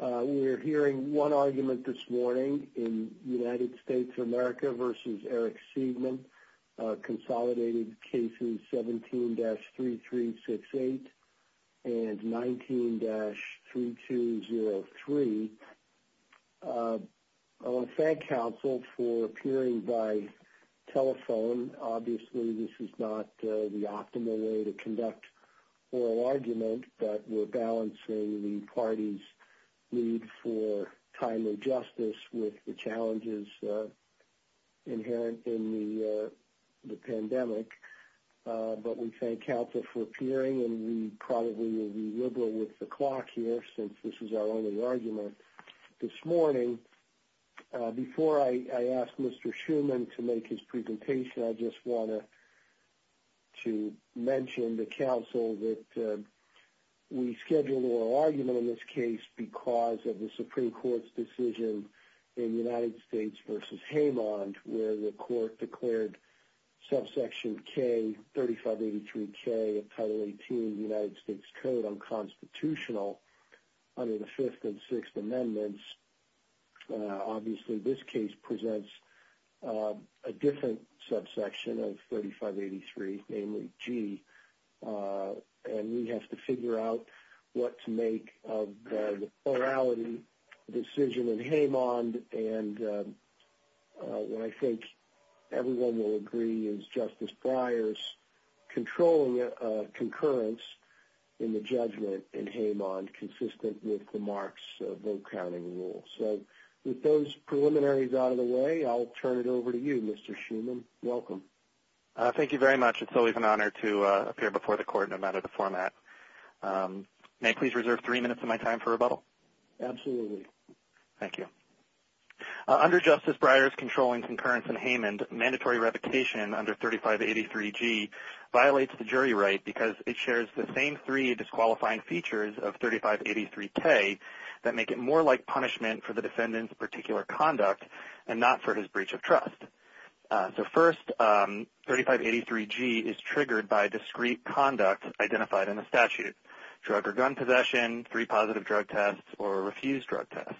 We are hearing one argument this morning in United States of America v. Eric Seigman, consolidated cases 17-3368 and 19-3203. I want to thank counsel for appearing by telephone. Obviously this is not the optimal way to conduct oral argument, but we're balancing the parties need for timely justice with the challenges inherent in the pandemic. But we thank counsel for appearing and we probably will be liberal with the clock here since this is our only argument this morning. Before I ask Mr. Seigman to make his presentation, I just want to mention to counsel that we scheduled oral argument in this case because of the Supreme Court's decision in United States v. Haymond where the court declared subsection K, 3583K of Title 18 of the United States Code unconstitutional under the Fifth and Sixth Amendments. Obviously this case presents a different subsection of 3583, namely G. And we have to figure out what to make of the plurality decision in Haymond. And what I think everyone will agree is Justice Breyer's controlling concurrence in the judgment in Haymond consistent with the Marks Vote Counting Rule. So with those preliminaries out of the way, I'll turn it over to you, Mr. Seigman. Welcome. Thank you very much. It's always an honor to appear before the court no matter the format. May I please reserve three minutes of my time for rebuttal? Absolutely. Thank you. Under Justice Breyer's controlling concurrence in Haymond, mandatory revocation under 3583G violates the jury right because it shares the same three disqualifying features of 3583K that make it more like punishment for the defendant's particular conduct and not for his breach of trust. So first, 3583G is triggered by discrete conduct identified in the statute. Drug or gun possession, three positive drug tests, or a refused drug test.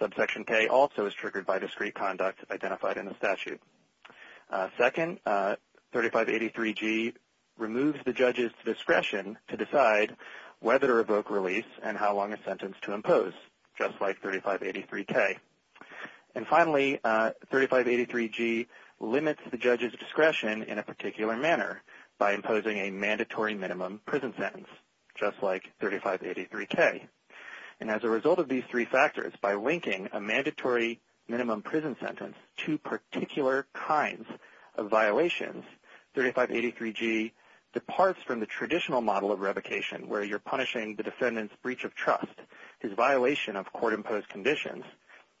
Subsection K also is triggered by discrete conduct identified in the statute. Second, 3583G removes the judge's discretion to decide whether to revoke release and how long a sentence to impose, just like 3583K. And finally, 3583G limits the judge's discretion in a particular manner by imposing a mandatory minimum prison sentence, just like 3583K. And as a result of these three factors, by linking a mandatory minimum prison sentence to particular kinds of violations, 3583G departs from the traditional model of revocation where you're punishing the defendant's breach of trust, his violation of court-imposed conditions,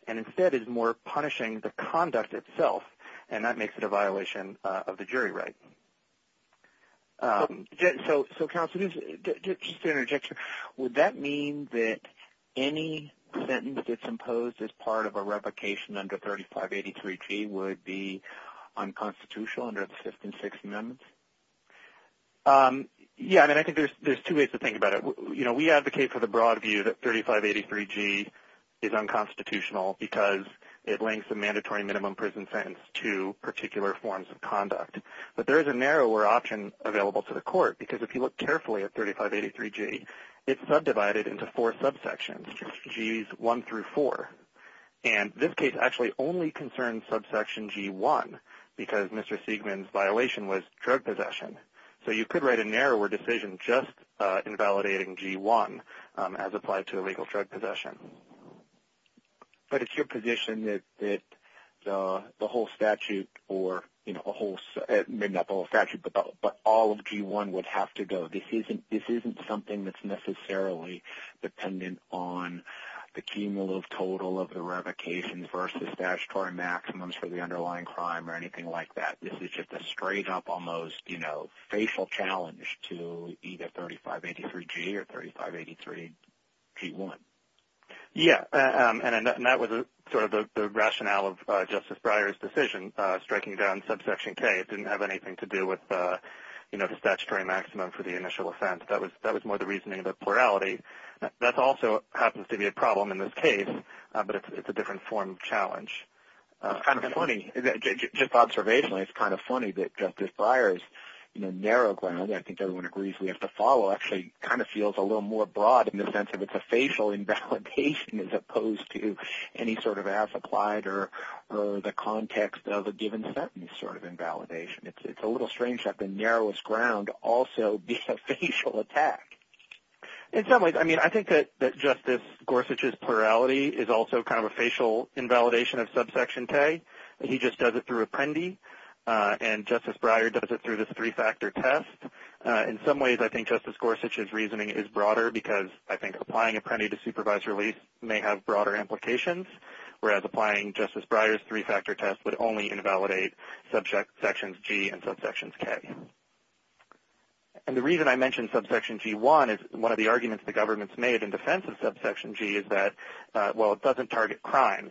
and instead is more punishing the conduct itself. And that makes it a violation of the jury right. So counsel, just an interjection. Would that mean that any sentence that's imposed as part of a revocation under 3583G would be unconstitutional under the Fifth and Sixth Amendments? Yeah, and I think there's two ways to think about it. You know, we advocate for the broad view that 3583G is unconstitutional because it links a mandatory minimum prison sentence to particular forms of conduct. But there is a narrower option available to the court because if you look carefully at 3583G, it's subdivided into four subsections, Gs 1 through 4. And this case actually only concerns subsection G1 because Mr. Siegman's violation was drug possession. So you could write a narrower decision just invalidating G1 as applied to illegal drug possession. But it's your position that the whole statute or, you know, a whole, maybe not the whole statute, but all of G1 would have to go. This isn't something that's necessarily dependent on the cumulative total of the revocations versus statutory maximums for the underlying crime or anything like that. This is just a straight up almost, you know, facial challenge to either 3583G or 3583G1. Yeah, and that was sort of the rationale of Justice Breyer's decision, striking down subsection K. It didn't have anything to do with, you know, the statutory maximum for the initial offense. That was more the reasoning of the plurality. That also happens to be a problem in this case, but it's a different form of challenge. Kind of funny, just observationally, it's kind of funny that Justice Breyer's, you know, narrow ground, I think everyone agrees we have to follow, actually kind of feels a little more broad in the sense of it's a facial invalidation as opposed to any sort of as applied or the context of a given sentence sort of invalidation. It's a little strange that the narrowest ground also be a facial attack. In some ways, I mean, I think that Justice Gorsuch's plurality is also kind of a facial invalidation of subsection K. He just does it through Apprendi, and Justice Breyer does it through this three-factor test. In some ways, I think Justice Gorsuch's reasoning is broader because I think applying Apprendi to supervised release may have broader implications, whereas applying Justice Breyer's three-factor test would only invalidate subsections G and subsections K. And the reason I mentioned subsection G1 is one of the arguments the government's made in defense of subsection G is that, well, it doesn't target crimes,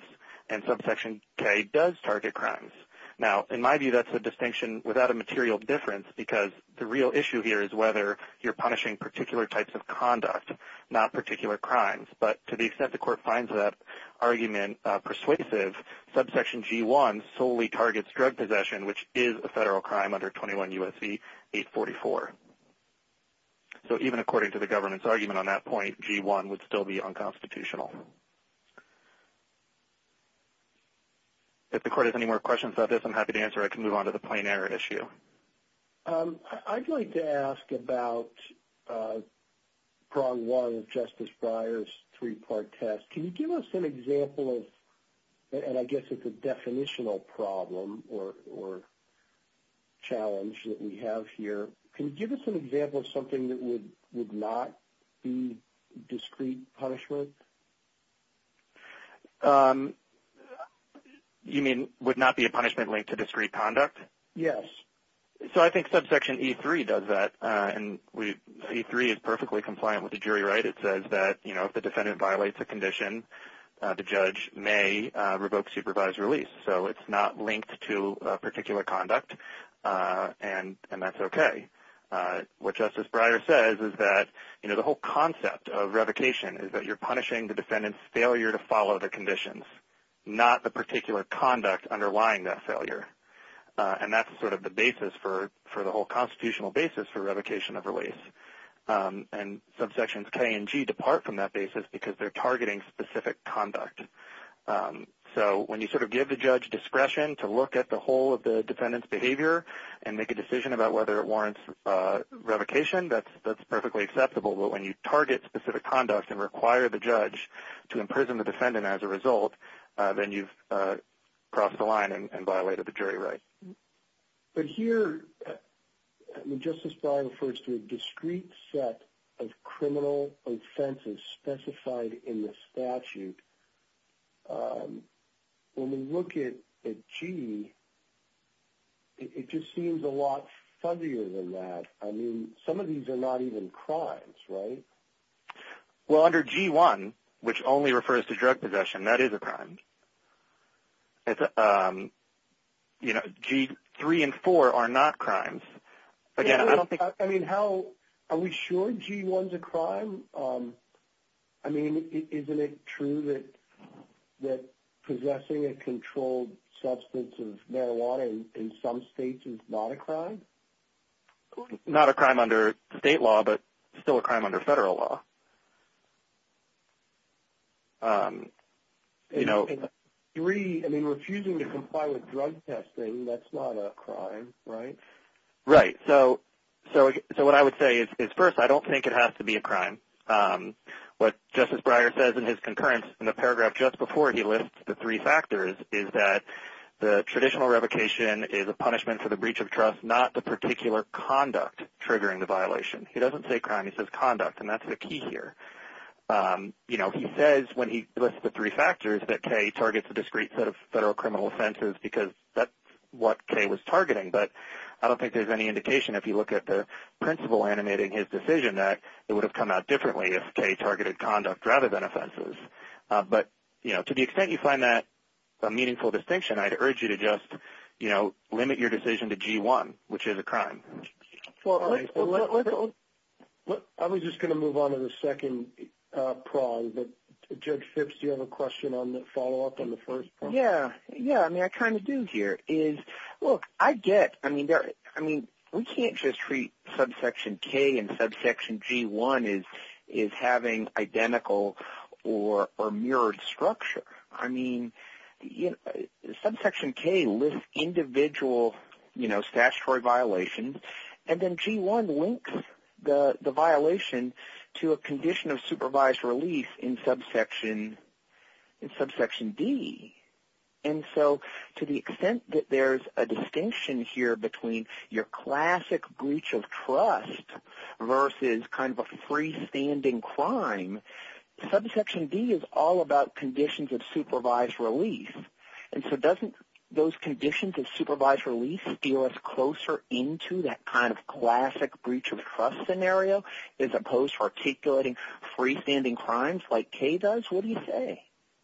and subsection K does target crimes. Now, in my view, that's a distinction without a material difference because the real issue here is whether you're punishing particular types of conduct, not particular crimes. But to the extent the court finds that argument persuasive, subsection G1 solely targets drug possession, which is a federal crime under 21 U.S.C. 844. So even according to the government's argument on that point, G1 would still be unconstitutional. If the court has any more questions about this, I'm happy to answer, or I can move on to the plain error issue. I'd like to ask about prong one of Justice Breyer's three-part test. Can you give us an example of, and I guess it's a definitional problem or challenge that we have here. Can you give us an example of something that would not be discrete punishment? You mean would not be a punishment linked to discrete conduct? Yes. So I think subsection E3 does that, and E3 is perfectly compliant with the jury right. It says that if the defendant violates a condition, the judge may revoke supervised release. So it's not linked to particular conduct, and that's okay. What Justice Breyer says is that, you know, the whole concept of revocation is that you're punishing the defendant's failure to follow the conditions, not the particular conduct underlying that failure. And that's sort of the basis for the whole constitutional basis for revocation of release. And subsections K and G depart from that basis because they're targeting specific conduct. So when you sort of give the judge discretion to look at the whole of the defendant's behavior and make a decision about whether it warrants revocation, that's perfectly acceptable. But when you target specific conduct and require the judge to imprison the defendant as a result, then you've crossed the line and violated the jury right. But here, when Justice Breyer refers to a discrete set of criminal offenses specified in the statute, when we look at G, it just seems a lot fuzzier than that. I mean, some of these are not even crimes, right? Well, under G-1, which only refers to drug possession, that is a crime. You know, G-3 and G-4 are not crimes. Again, I don't think... I mean, are we sure G-1's a crime? I mean, isn't it true that possessing a controlled substance of marijuana in some states is not a crime? Not a crime under state law, but still a crime under federal law. And G-3, I mean, refusing to comply with drug testing, that's not a crime, right? Right. So what I would say is first, I don't think it has to be a crime. What Justice Breyer says in his concurrence in the paragraph just before he lists the three factors is that the traditional revocation is a punishment for the breach of trust, not the particular conduct triggering the violation. He doesn't say crime. He says conduct, and that's the key here. You know, he says when he lists the three factors that K targets a discrete set of federal criminal offenses because that's what K was targeting. But I don't think there's any indication, if you look at the principle animating his decision, that it would have come out differently if K targeted conduct rather than offenses. But, you know, to the extent you find that a meaningful distinction, I'd urge you to just, you know, limit your decision to G-1, which is a crime. I was just going to move on to the second prong, but Judge Phipps, do you have a question on the follow-up on the first prong? Yeah. Yeah, I mean, I kind of do here is, look, I get, I mean, we can't just treat subsection K and subsection G-1 as having identical or mirrored structure. I mean, subsection K lists individual, you know, statutory violations, and then G-1 links the violation to a condition of supervised release in subsection D. And so to the extent that there's a distinction here between your classic breach of trust versus kind of a freestanding crime, subsection D is all about conditions of supervised release. And so doesn't those conditions of supervised release steer us closer into that kind of classic breach of trust scenario as opposed to articulating freestanding crimes like K does? What do you say?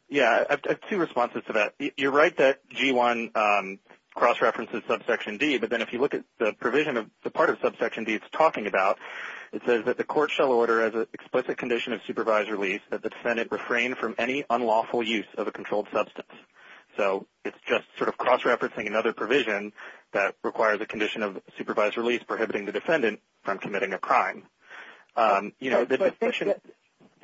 Yeah, I have two responses to that. You're right that G-1 cross-references subsection D, but then if you look at the provision of the part of subsection D it's talking about, it says that the court shall order as an explicit condition of supervised release that the defendant refrain from any unlawful use of a controlled substance. So it's just sort of cross-referencing another provision that requires a condition of supervised release prohibiting the defendant from committing a crime. You know,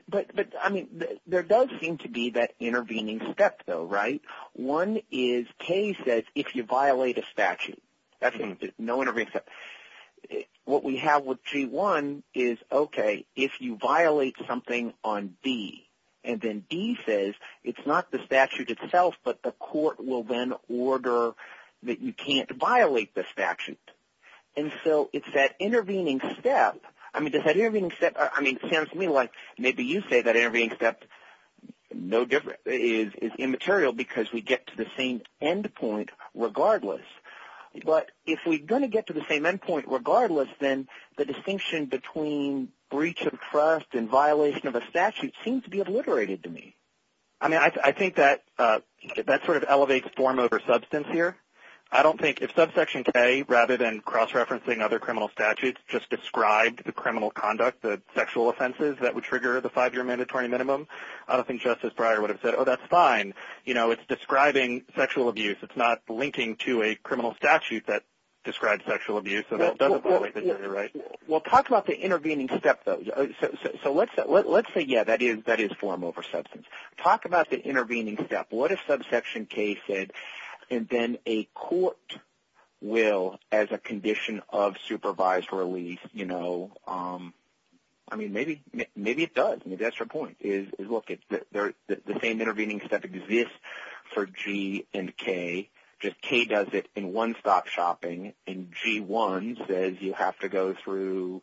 but I mean, there does seem to be that intervening step though, right? One is K says if you violate a statute, that's no intervening step. What we have with G-1 is okay, if you violate something on D and then D says it's not the statute itself, but the court will then order that you can't violate the statute. And so it's that intervening step. I mean, does that intervening step, I mean, it sounds to me like maybe you say that intervening step is immaterial because we get to the same endpoint regardless. But if we're going to get to the same endpoint regardless, then the distinction between breach of trust and violation of a statute seems to be obliterated to me. I mean, I think that sort of elevates form over substance here. I don't think if subsection K rather than cross-referencing other criminal statutes just described the criminal conduct, the sexual offenses that would trigger the five-year mandatory minimum, I don't think Justice Breyer would have said, oh, that's fine. You know, it's describing sexual abuse. It's not linking to a criminal statute that describes sexual abuse. So that doesn't violate the jury, right? Well, talk about the intervening step though. So let's say, yeah, that is form over substance. Talk about the intervening step. What if subsection K said, and then a court will, as a condition of supervised release, you know, I mean, maybe it does. Maybe that's your point, is look, the same intervening step exists for G and K. Just K does it in one-stop shopping, and G1 says you have to go through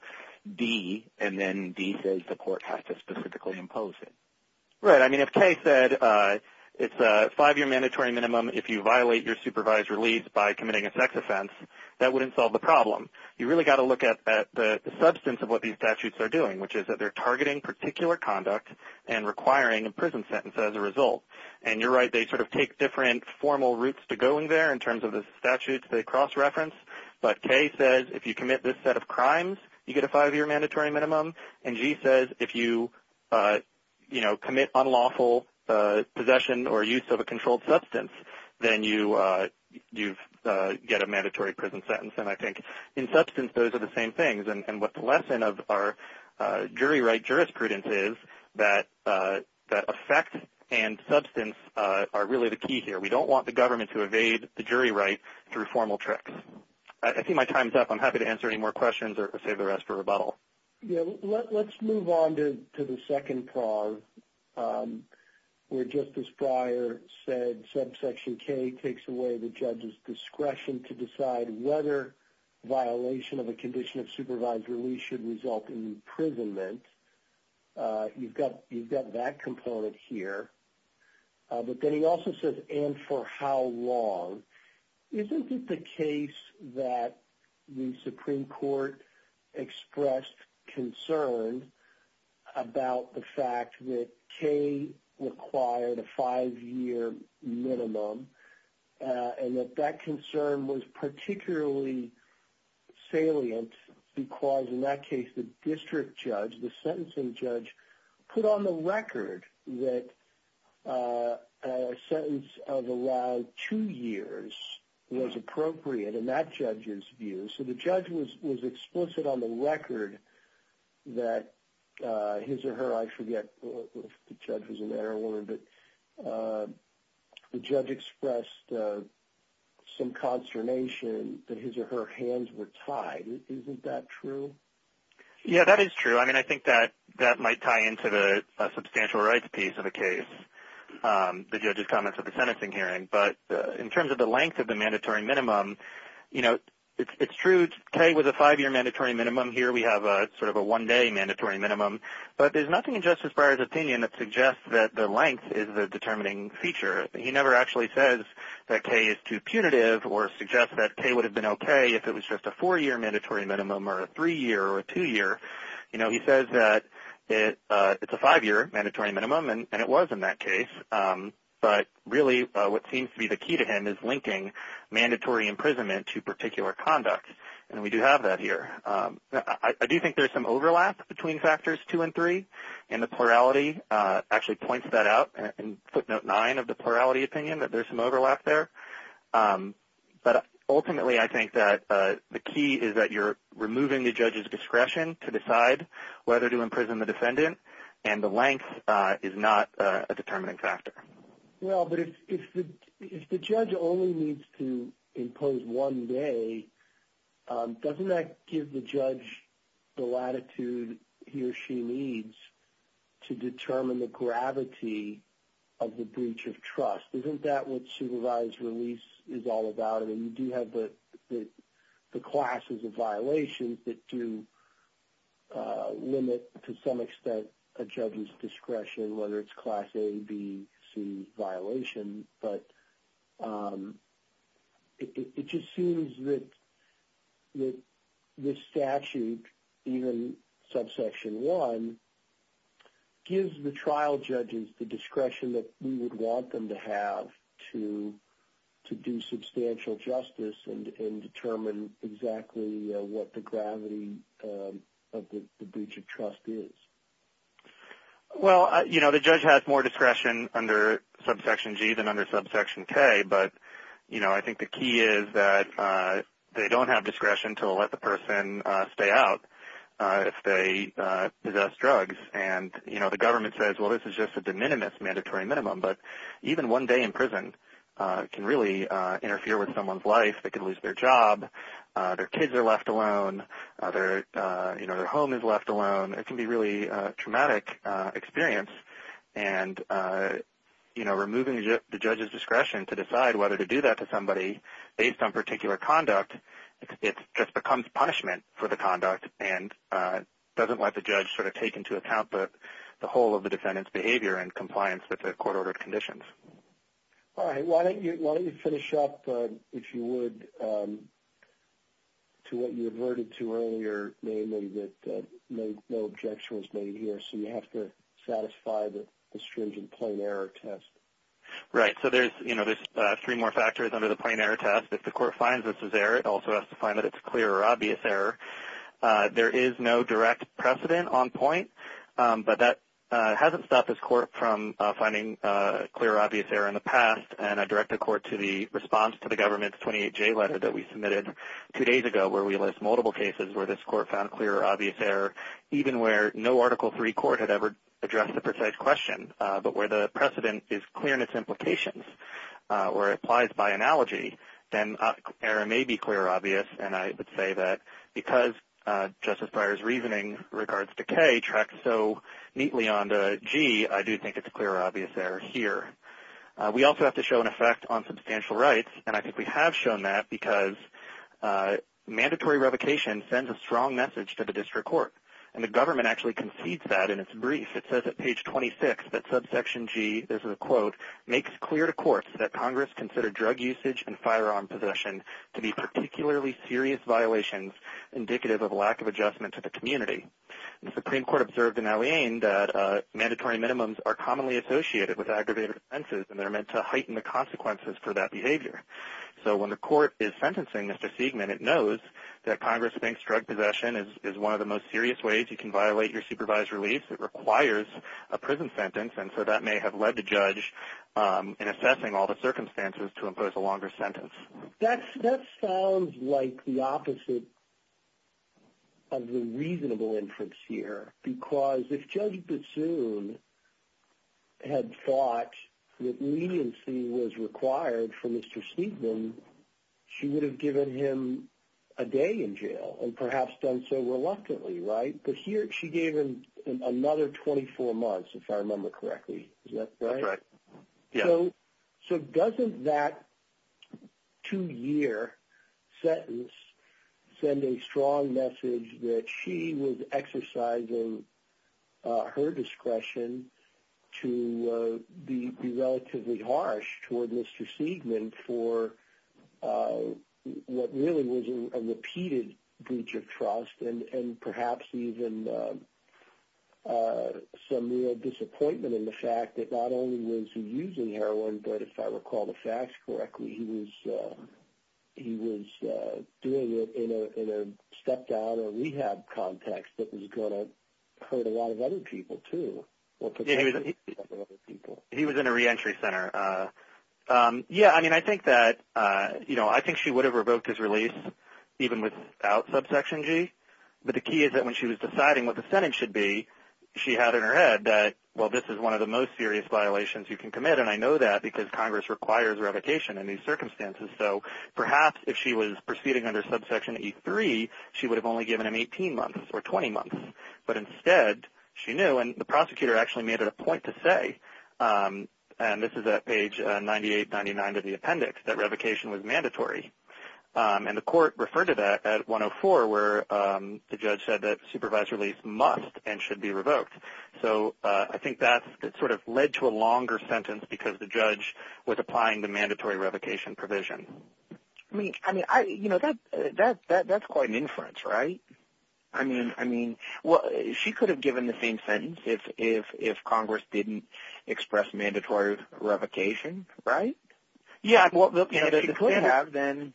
D, and then D says the court has to specifically impose it. Right. I mean, if K said it's a five-year mandatory minimum if you violate your supervised release by committing a sex offense, that wouldn't solve the problem. You really got to look at the substance of what these statutes are doing, which is that they're targeting particular conduct and requiring a prison sentence as a result. And you're right. They sort of take different formal routes to going there in terms of the statutes they cross-reference, but K says if you commit this set of crimes, you get a five-year mandatory minimum, and G says if you, you know, commit unlawful possession or use of a controlled substance, then you get a mandatory prison sentence. And I think in substance, those are the same things. And what the lesson of our jury right jurisprudence is that effect and substance are really the key here. We don't want the government to evade the jury right through formal tricks. I see my time's up. I'm happy to answer any more questions or save the rest for rebuttal. Let's move on to the second prong where Justice Breyer said subsection K takes away the judge's discretion to decide whether violation of a condition of supervised release should result in imprisonment. You've got that component here. But then he also says and for how long. Isn't it the case that the Supreme Court expressed concern about the fact that K required a five-year minimum and that that concern was particularly salient because in that case, the district judge, the sentencing judge, put on the record that a sentence of allowed two years was appropriate in that judge's view. So the judge was explicit on the record that his or her, I forget if the judge was a man or a woman, but the judge expressed some consternation that his or her hands were tied. Isn't that true? Yeah, that is true. I mean, I think that might tie into the substantial rights piece of the case, the judge's comments at the sentencing hearing. But in terms of the length of the mandatory minimum, you know, it's true K was a five-year mandatory minimum. Here we have sort of a one-day mandatory minimum. But there's nothing in Justice Breyer's opinion that suggests that the length is the determining feature. He never actually says that K is too punitive or suggests that K would have been okay if it was just a four-year mandatory minimum or a three-year or a two-year. You know, he says that it's a five-year mandatory minimum, and it was in that case. But really, what seems to be the key to him is linking mandatory imprisonment to particular conduct. And we do have that here. I do think there's some overlap between factors two and three, and the plurality actually points that out in footnote nine of the plurality opinion, that there's some overlap there. But ultimately, I think that the key is that you're removing the judge's discretion to decide whether to imprison the defendant, and the length is not a determining factor. Well, but if the judge only needs to impose one day, doesn't that give the judge the latitude he or she needs to determine the gravity of the breach of trust? Isn't that what supervised release is all about? And you do have the classes of violations that do limit, to some extent, a judge's discretion, whether it's class A, B, C violation. But it just seems that this statute, even subsection one, gives the trial judges the to do substantial justice and determine exactly what the gravity of the breach of trust is. Well, you know, the judge has more discretion under subsection G than under subsection K. But, you know, I think the key is that they don't have discretion to let the person stay out if they possess drugs. And, you know, the government says, well, this is just a de minimis mandatory minimum. But even one day in prison can really interfere with someone's life. They could lose their job, their kids are left alone, their home is left alone. It can be a really traumatic experience. And, you know, removing the judge's discretion to decide whether to do that to somebody, based on particular conduct, it just becomes punishment for the conduct and doesn't let the judge sort of take into account the whole of the defendant's behavior and compliance with the court-ordered conditions. All right. Why don't you finish up, if you would, to what you averted to earlier, naming that no objection was made here. So you have to satisfy the stringent plain error test. Right. So there's, you know, there's three more factors under the plain error test. If the court finds this is error, it also has to find that it's clear or obvious error. There is no direct precedent on point. But that hasn't stopped this court from finding clear or obvious error in the past. And I direct the court to the response to the government's 28-J letter that we submitted two days ago, where we list multiple cases where this court found clear or obvious error, even where no Article III court had ever addressed the precise question, but where the precedent is clear in its implications, where it applies by analogy, then error may be clear or obvious. And I would say that because Justice Breyer's reasoning in regards to K tracks so neatly on to G, I do think it's clear or obvious error here. We also have to show an effect on substantial rights. And I think we have shown that because mandatory revocation sends a strong message to the district court. And the government actually concedes that in its brief. It says at page 26 that subsection G, this is a quote, makes clear to courts that Congress considers drug usage and firearm possession to be particularly serious violations indicative of lack of adjustment to the community. The Supreme Court observed in Alleyne that mandatory minimums are commonly associated with aggravated offenses, and they're meant to heighten the consequences for that behavior. So when the court is sentencing Mr. Siegman, it knows that Congress thinks drug possession is one of the most serious ways you can violate your supervised release. It requires a prison sentence. And so that may have led the judge in assessing all the circumstances to impose a longer sentence. That sounds like the opposite of the reasonable inference here. Because if Judge Bassoon had thought that leniency was required for Mr. Siegman, she would have given him a day in jail and perhaps done so reluctantly, right? She gave him another 24 months, if I remember correctly. Is that right? That's right. Yeah. So doesn't that two-year sentence send a strong message that she was exercising her discretion to be relatively harsh toward Mr. Siegman for what really was a repeated breach of trust and perhaps even some real disappointment in the fact that not only was he using heroin, but if I recall the facts correctly, he was doing it in a step-down or rehab context that was going to hurt a lot of other people, too. He was in a reentry center. Yeah, I mean, I think that, you know, I think she would have revoked his release even without Subsection G. But the key is that when she was deciding what the sentence should be, she had in her head that, well, this is one of the most serious violations you can commit, and I know that because Congress requires revocation in these circumstances. So perhaps if she was proceeding under Subsection E3, she would have only given him 18 months or 20 months. But instead, she knew, and the prosecutor actually made it a point to say, and this is at page 98-99 of the appendix, that revocation was mandatory. And the court referred to that at 104, where the judge said that supervised release must and should be revoked. So I think that sort of led to a longer sentence because the judge was applying the mandatory revocation provision. I mean, you know, that's quite an inference, right? I mean, she could have given the same sentence if Congress didn't express mandatory revocation, right? Yeah, if she could have, then,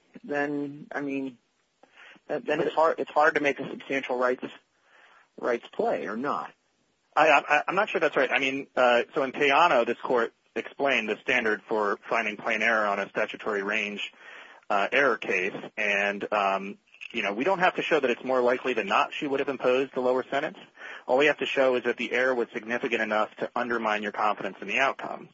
I mean, it's hard to make a substantial rights play or not. I'm not sure that's right. I mean, so in Payano, this court explained the standard for finding plain error on a statutory range error case. And, you know, we don't have to show that it's more likely than not she would have imposed the lower sentence. All we have to show is that the error was significant enough to undermine your confidence in the outcome.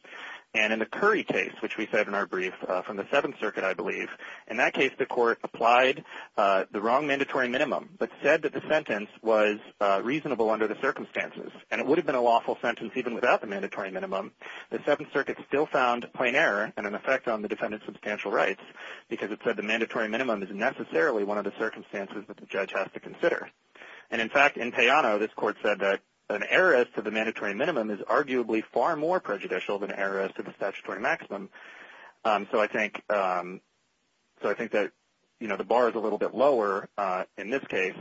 And in the Curry case, which we said in our brief from the Seventh Circuit, I believe, in that case, the court applied the wrong mandatory minimum, but said that the sentence was reasonable under the circumstances. And it would have been a lawful sentence even without the mandatory minimum. The Seventh Circuit still found plain error and an effect on the defendant's substantial rights because it said the mandatory minimum is necessarily one of the circumstances that the judge has to consider. And in fact, in Payano, this court said that an error as to the mandatory minimum is arguably far more prejudicial than an error as to the statutory maximum. So I think that, you know, the bar is a little bit lower in this case.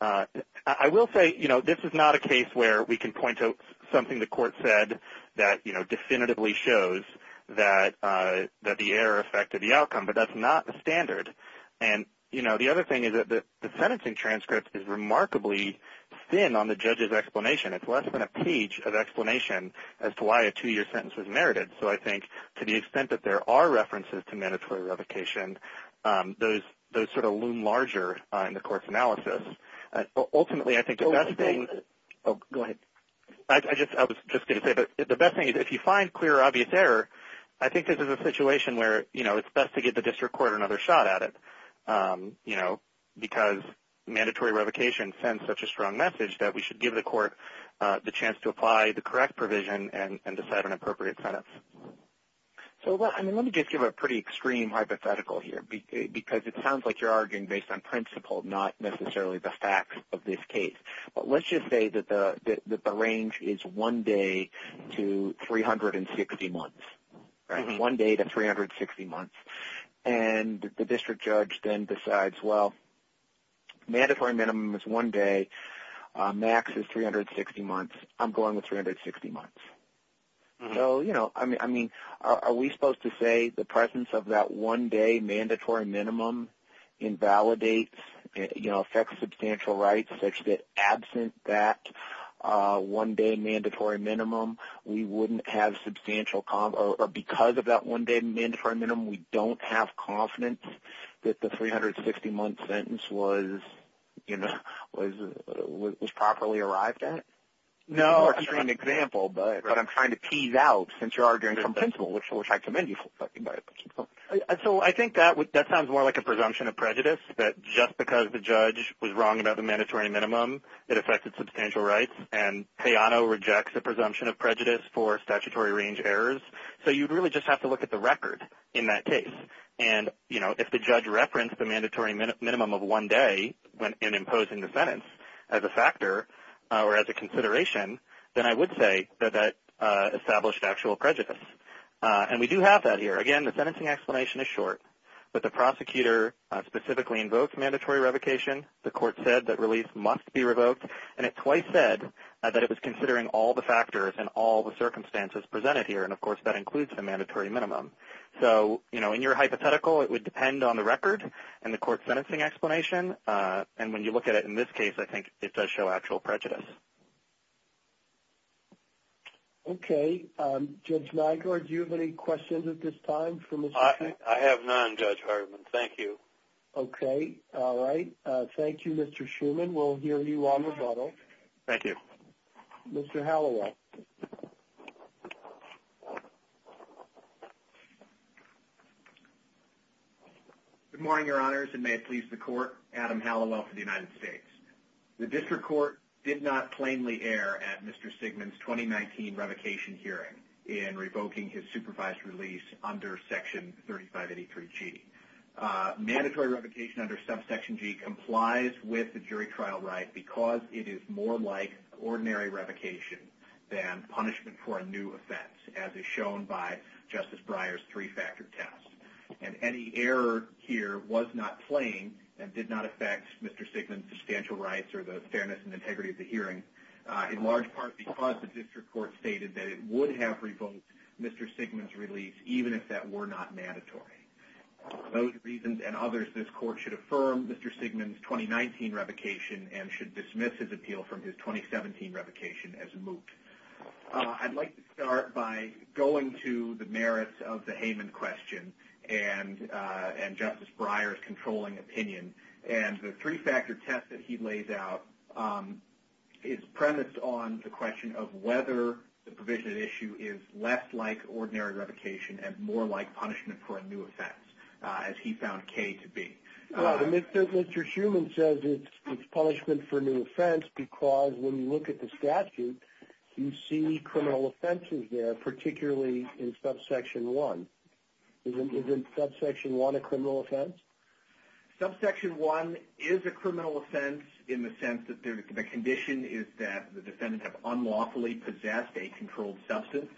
I will say, you know, this is not a case where we can point to something the court said that, you know, definitively shows that the error affected the outcome. But that's not the standard. And, you know, the other thing is that the sentencing transcript is remarkably thin on the judge's explanation. It's less than a page of explanation as to why a two-year sentence was merited. So I think to the extent that there are references to mandatory revocation, those sort of loom larger in the court's analysis. Ultimately, I think the best thing – oh, go ahead. I was just going to say that the best thing is if you find clear, obvious error, I think this is a situation where, you know, it's best to get the district court another shot at it, you know, because mandatory revocation sends such a strong message that we should give the court the chance to apply the correct provision and decide on appropriate sentence. So let me just give a pretty extreme hypothetical here, because it sounds like you're arguing based on principle, not necessarily the facts of this case. But let's just say that the range is one day to 360 months. One day to 360 months. And the district judge then decides, well, mandatory minimum is one day. Max is 360 months. I'm going with 360 months. So, you know, I mean, are we supposed to say the presence of that one-day mandatory minimum invalidates – you know, affects substantial rights such that absent that one-day mandatory minimum, we wouldn't have substantial – or because of that one-day mandatory minimum, we don't have confidence that the 360-month sentence was, you know, was properly arrived at? It's a more extreme example. But I'm trying to tease out, since you're arguing from principle, which I commend you for talking about it. So I think that sounds more like a presumption of prejudice, that just because the judge was wrong about the mandatory minimum, it affected substantial rights. And Peano rejects a presumption of prejudice for statutory range errors. So you'd really just have to look at the record in that case. And, you know, if the judge referenced the mandatory minimum of one day in imposing the sentence as a factor or as a consideration, then I would say that that established actual prejudice. And we do have that here. Again, the sentencing explanation is short. But the prosecutor specifically invoked mandatory revocation. The court said that release must be revoked. And it twice said that it was considering all the factors and all the circumstances presented here. And, of course, that includes the mandatory minimum. So, you know, in your hypothetical, it would depend on the record and the court sentencing explanation. And when you look at it in this case, I think it does show actual prejudice. Okay. Judge Nygaard, do you have any questions at this time for Mr. Schuman? I have none, Judge Hartman. Thank you. Okay. All right. Thank you, Mr. Schuman. We'll hear you on rebuttal. Thank you. Mr. Hallowell. Good morning, Your Honors, and may it please the Court. Adam Hallowell for the United States. The District Court did not plainly err at Mr. Sigmund's 2019 revocation hearing in revoking his supervised release under Section 3583G. Mandatory revocation under Subsection G complies with the jury trial right because it is more like ordinary revocation than punishment for a new offense, as is shown by Justice Breyer's three-factor test. And any error here was not plain and did not affect Mr. Sigmund's substantial rights or the fairness and integrity of the hearing, in large part because the District Court stated that it would have revoked Mr. Sigmund's release even if that were not mandatory. For those reasons and others, this Court should affirm Mr. Sigmund's 2019 revocation and should revoke his 2017 revocation as moot. I'd like to start by going to the merits of the Heyman question and Justice Breyer's controlling opinion. And the three-factor test that he lays out is premised on the question of whether the provision at issue is less like ordinary revocation and more like punishment for a new offense, as he found K to be. Well, Mr. Heyman says it's punishment for a new offense because when you look at the statute, you see criminal offenses there, particularly in Subsection 1. Isn't Subsection 1 a criminal offense? Subsection 1 is a criminal offense in the sense that the condition is that the defendant have unlawfully possessed a controlled substance.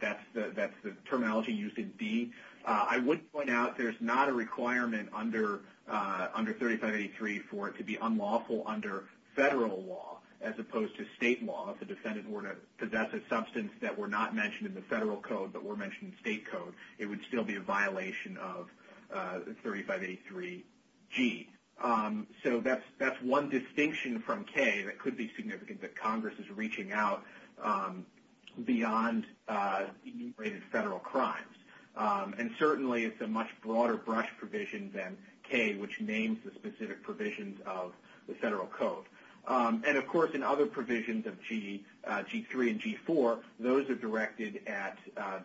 That's the terminology used in D. I would point out there's not a requirement under 3583 for it to be unlawful under federal law as opposed to state law. If the defendant were to possess a substance that were not mentioned in the federal code but were mentioned in state code, it would still be a violation of 3583G. So that's one distinction from K that could be significant that Congress is reaching out beyond enumerated federal crimes. And certainly, it's a much broader brush provision than K, which names the specific provisions of the federal code. And of course, in other provisions of G3 and G4, those are directed at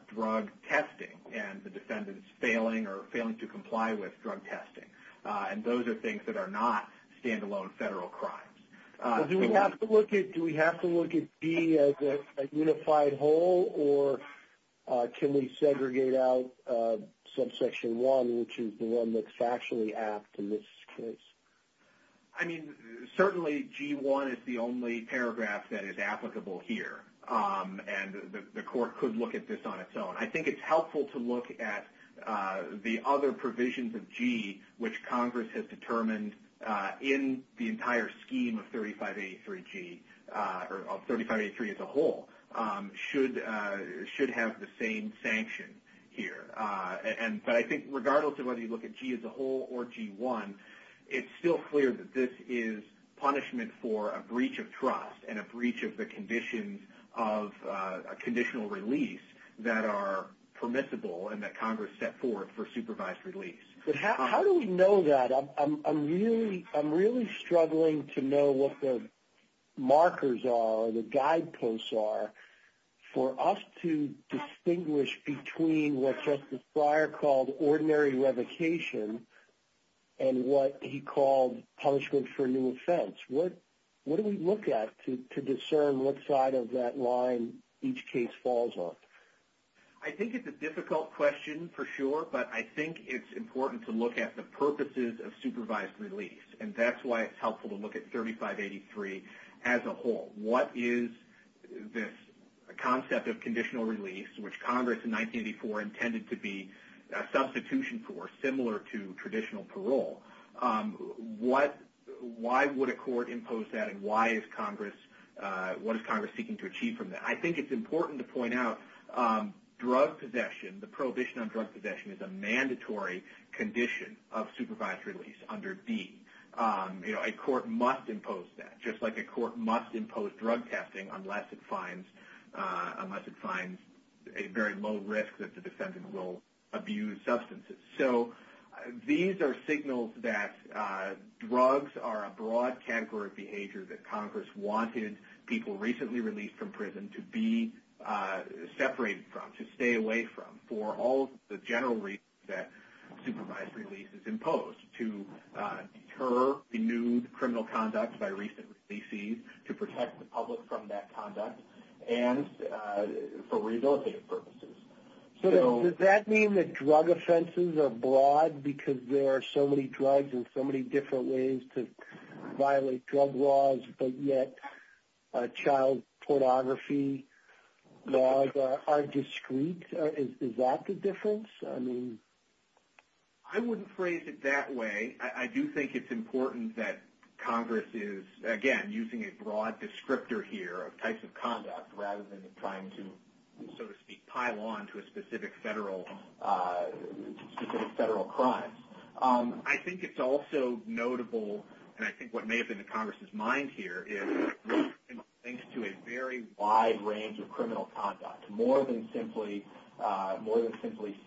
drug testing and the defendant's failing or failing to comply with drug testing. And those are things that are not standalone federal crimes. Do we have to look at G as a unified whole? Or can we segregate out Subsection 1, which is the one that's factually apt in this case? I mean, certainly, G1 is the only paragraph that is applicable here. And the court could look at this on its own. I think it's helpful to look at the other provisions of G, which Congress has determined in the entire scheme of 3583G, or of 3583 as a whole, should have the same sanction here. But I think regardless of whether you look at G as a whole or G1, it's still clear that this is punishment for a breach of trust and a breach of the conditions of conditional release that are permissible and that Congress set forth for supervised release. But how do we know that? I'm really struggling to know what the markers are or the guideposts are for us to distinguish between what Justice Breyer called ordinary revocation and what he called punishment for a new offense. What do we look at to discern what side of that line each case falls on? I think it's a difficult question, for sure, but I think it's important to look at the purposes of supervised release. And that's why it's helpful to look at 3583 as a whole. What is this concept of conditional release, which Congress in 1984 intended to be a substitution for, similar to traditional parole? Why would a court impose that and what is Congress seeking to achieve from that? I think it's important to point out drug possession, the prohibition on drug possession is a mandatory condition of supervised release under D. A court must impose that, just like a court must impose drug testing unless it finds a very low risk that the defendant will abuse substances. So these are signals that drugs are a broad category of behavior that Congress wanted people recently released from prison to be separated from, to stay away from, for all the general reasons that supervised release is imposed, to deter renewed criminal conduct by recent releasees, to protect the public from that conduct, and for rehabilitative purposes. Does that mean that drug offenses are broad because there are so many drugs and so many different ways to violate drug laws, but yet child pornography laws are discreet? Is that the difference? I wouldn't phrase it that way. I do think it's important that Congress is, again, using a broad descriptor here of types of conduct rather than trying to, so to speak, pile on to a specific federal crime. I think it's also notable, and I think what may have been in Congress's mind here, is drugs can lead to a very wide range of criminal conduct. More than simply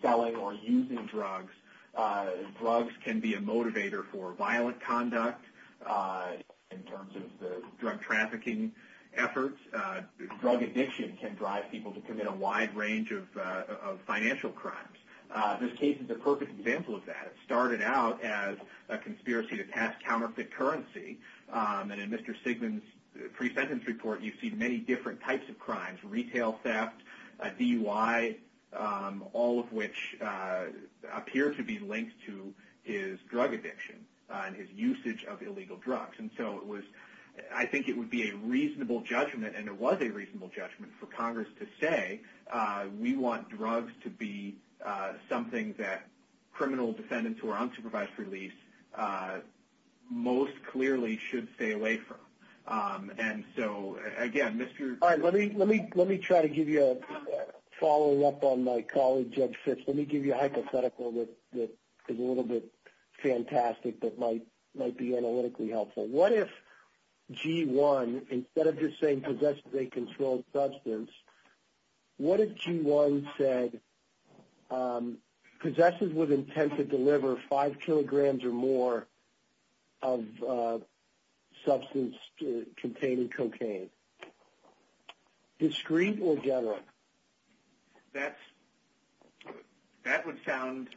selling or using drugs, drugs can be a motivator for violent conduct in terms of the drug trafficking efforts. Drug addiction can drive people to commit a wide range of financial crimes. This case is a perfect example of that. It started out as a conspiracy to test counterfeit currency, and in Mr. Sigmund's pre-sentence report, you see many different types of crimes, retail theft, DUI, all of which appear to be linked to his drug addiction and his usage of illegal drugs. I think it would be a reasonable judgment, and it was a reasonable judgment, for Congress to say, we want drugs to be something that criminal defendants who are unsupervised for release most clearly should stay away from. Again, Mr. All right, let me try to give you a following up on my colleague, Judge Fitz. Let me give you a hypothetical that is a little bit fantastic but might be analytically helpful. What if G1, instead of just saying possessors of a controlled substance, what if G1 said possessors with intent to deliver five kilograms or more of substance containing cocaine? Discreet or general? That would sound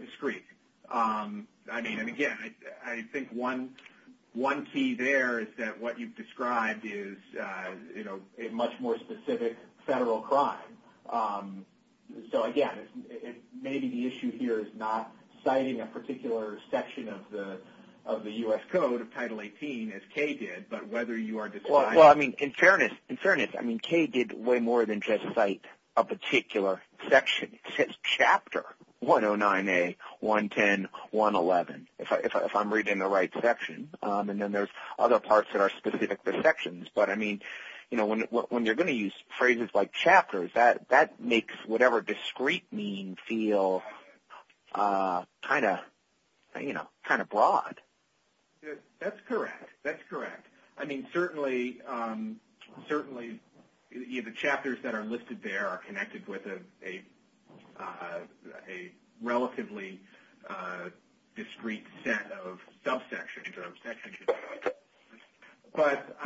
discreet. I mean, and again, I think one key there is that what you've described is a much more specific federal crime. So again, maybe the issue here is not citing a particular section of the U.S. Code of Title 18, as Kay did, but whether you are describing- Well, I mean, in fairness, I mean, Kay did way more than just cite a particular section. It says chapter, 109A, 110, 111, if I'm reading the right section. And then there's other parts that are specific to sections. But I mean, you know, when you're going to use phrases like chapters, that makes whatever discreet means feel kind of, you know, kind of broad. That's correct. That's correct. I mean, certainly the chapters that are listed there are connected with a relatively discreet set of subsections or sections. But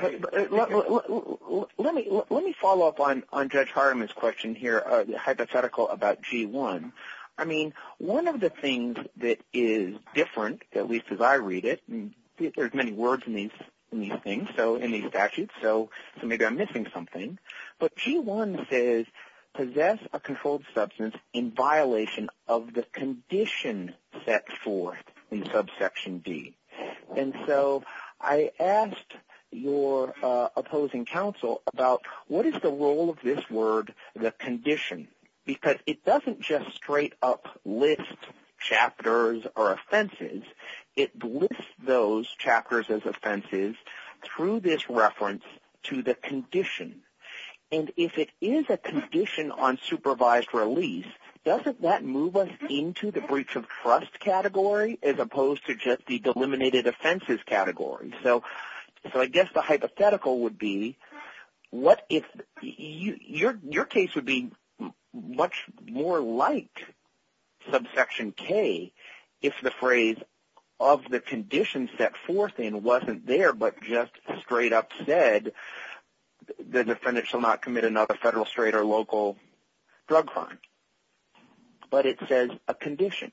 let me follow up on Judge Hariman's question here, hypothetical about G1. I mean, one of the things that is different, at least as I read it, and there's many words in these things, so in these statutes, so maybe I'm missing something. But G1 says, possess a controlled substance in violation of the condition set forth in subsection D. And so I asked your opposing counsel about what is the role of this word, the condition? Because it doesn't just straight up list chapters or offenses. It lists those chapters as offenses through this reference to the condition. And if it is a condition on supervised release, doesn't that move us into the breach of trust category as opposed to just the delimited offenses category? So I guess the hypothetical would be what if – your case would be much more like subsection K if the phrase of the condition set forth in wasn't there but just straight up said, the defendant shall not commit another federal, state, or local drug crime. But it says a condition.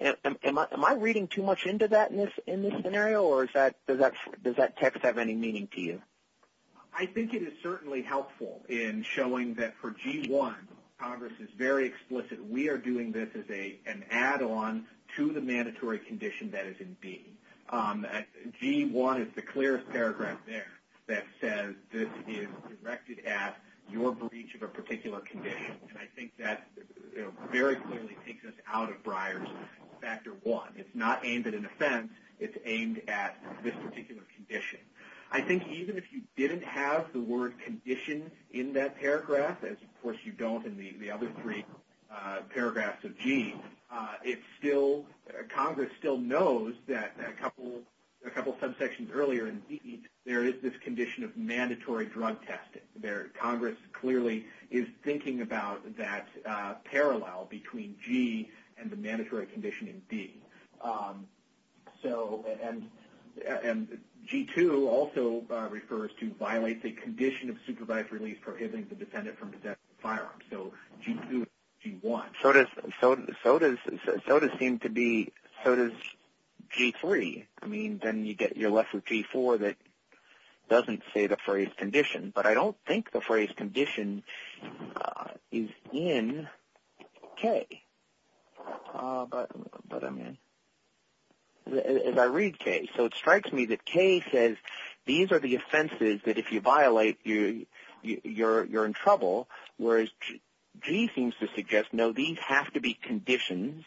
Am I reading too much into that in this scenario, or does that text have any meaning to you? I think it is certainly helpful in showing that for G1, Congress is very explicit. We are doing this as an add-on to the mandatory condition that is in B. G1 is the clearest paragraph there that says this is directed at your breach of a particular condition. And I think that very clearly takes us out of Breyer's Factor 1. It's not aimed at an offense. It's aimed at this particular condition. I think even if you didn't have the word condition in that paragraph, as of course you don't in the other three paragraphs of G, it's still – Congress still knows that a couple of subsections earlier in B, there is this condition of mandatory drug testing. Congress clearly is thinking about that parallel between G and the mandatory condition in B. So – and G2 also refers to violate the condition of supervised release prohibiting the defendant from possessing a firearm. So G2 and G1. So does G3. I mean, then you're left with G4 that doesn't say the phrase condition. But I don't think the phrase condition is in K. But I mean – as I read K. So it strikes me that K says these are the offenses that if you violate, you're in trouble, whereas G seems to suggest, no, these have to be conditions,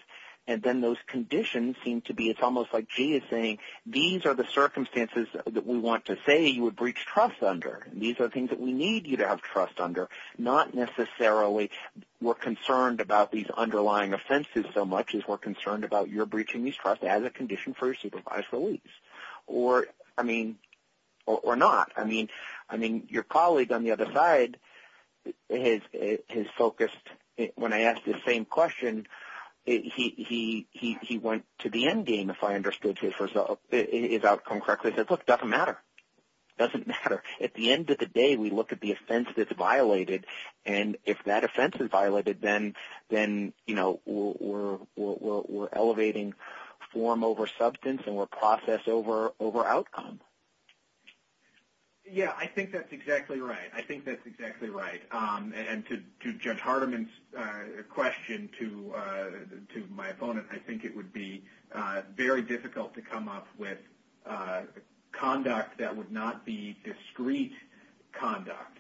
and then those conditions seem to be – it's almost like G is saying, these are the circumstances that we want to say you would breach trust under. These are things that we need you to have trust under, not necessarily we're concerned about these underlying offenses so much as we're concerned about your breaching these trusts as a condition for your supervised release. Or, I mean – or not. I mean, your colleague on the other side has focused – when I asked the same question, he went to the end game if I understood his outcome correctly. He said, look, it doesn't matter. It doesn't matter. At the end of the day, we look at the offense that's violated, and if that offense is violated, then we're elevating form over substance and we're process over outcome. Yeah, I think that's exactly right. I think that's exactly right. And to Judge Hardiman's question to my opponent, I think it would be very difficult to come up with conduct that would not be discreet conduct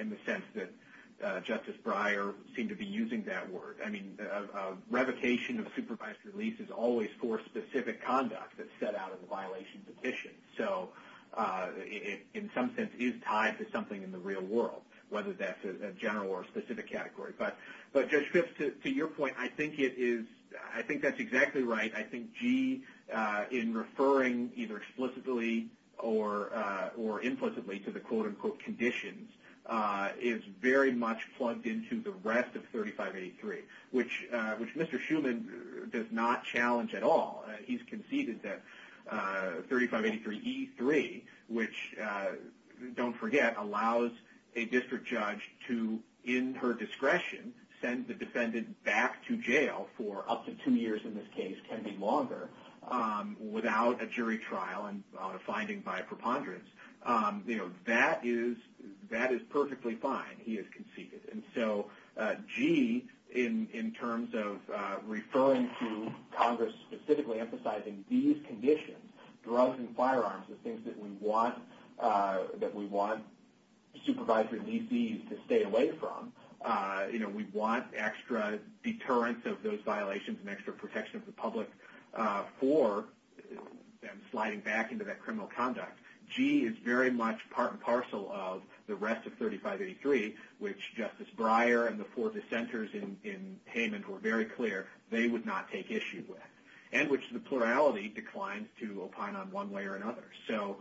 in the sense that Justice Breyer seemed to be using that word. I mean, a revocation of supervised release is always for specific conduct that's set out in the violation petition. So it, in some sense, is tied to something in the real world, whether that's a general or specific category. But, Judge Schiff, to your point, I think it is – I think that's exactly right. I think G in referring either explicitly or implicitly to the quote-unquote conditions is very much plugged into the rest of 3583, which Mr. Schuman does not challenge at all. He's conceded that 3583E3, which, don't forget, allows a district judge to, in her discretion, send the defendant back to jail for up to two years in this case, can be longer, without a jury trial and without a finding by a preponderance. That is perfectly fine, he has conceded. And so G, in terms of referring to Congress specifically emphasizing these conditions, drugs and firearms, the things that we want – that we want supervisory DCs to stay away from, you know, we want extra deterrence of those violations and extra protection of the public for them sliding back into that criminal conduct. G is very much part and parcel of the rest of 3583, which Justice Breyer and the four dissenters in Hayman were very clear they would not take issue with, and which the plurality declines to opine on one way or another. So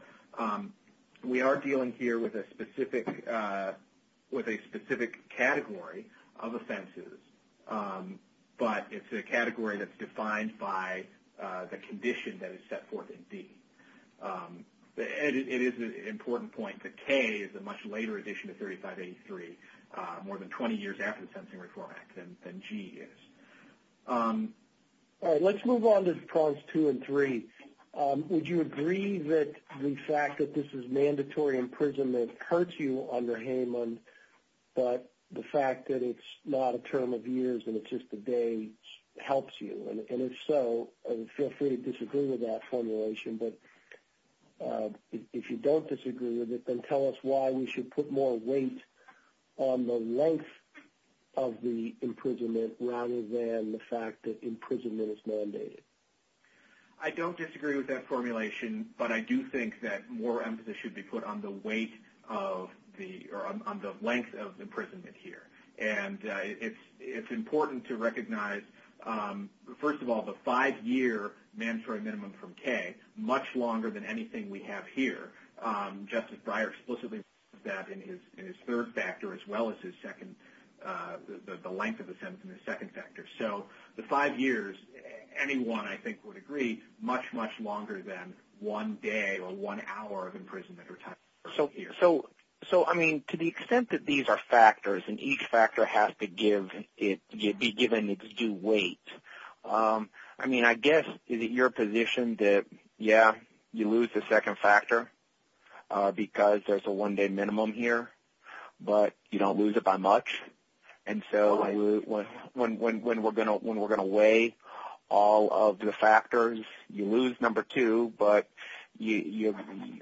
we are dealing here with a specific – with a specific category of offenses, but it's a category that's defined by the condition that is set forth in D. And it is an important point that K is a much later addition to 3583, more than 20 years after the Sensing Reform Act, than G is. All right, let's move on to Parts 2 and 3. Would you agree that the fact that this is mandatory imprisonment hurts you under Hayman, but the fact that it's not a term of years and it's just a day helps you? And if so, feel free to disagree with that formulation. But if you don't disagree with it, then tell us why we should put more weight on the length of the imprisonment rather than the fact that imprisonment is mandated. I don't disagree with that formulation, but I do think that more emphasis should be put on the weight of the – or on the length of the imprisonment here. And it's important to recognize, first of all, the five-year mandatory minimum from K, much longer than anything we have here. Justice Breyer explicitly said that in his third factor as well as his second – the length of the sentence in the second factor. So the five years, anyone I think would agree, much, much longer than one day or one hour of imprisonment or time. So, I mean, to the extent that these are factors and each factor has to be given its due weight, I mean, I guess is it your position that, yeah, you lose the second factor because there's a one-day minimum here, but you don't lose it by much? And so when we're going to weigh all of the factors, you lose number two, but you're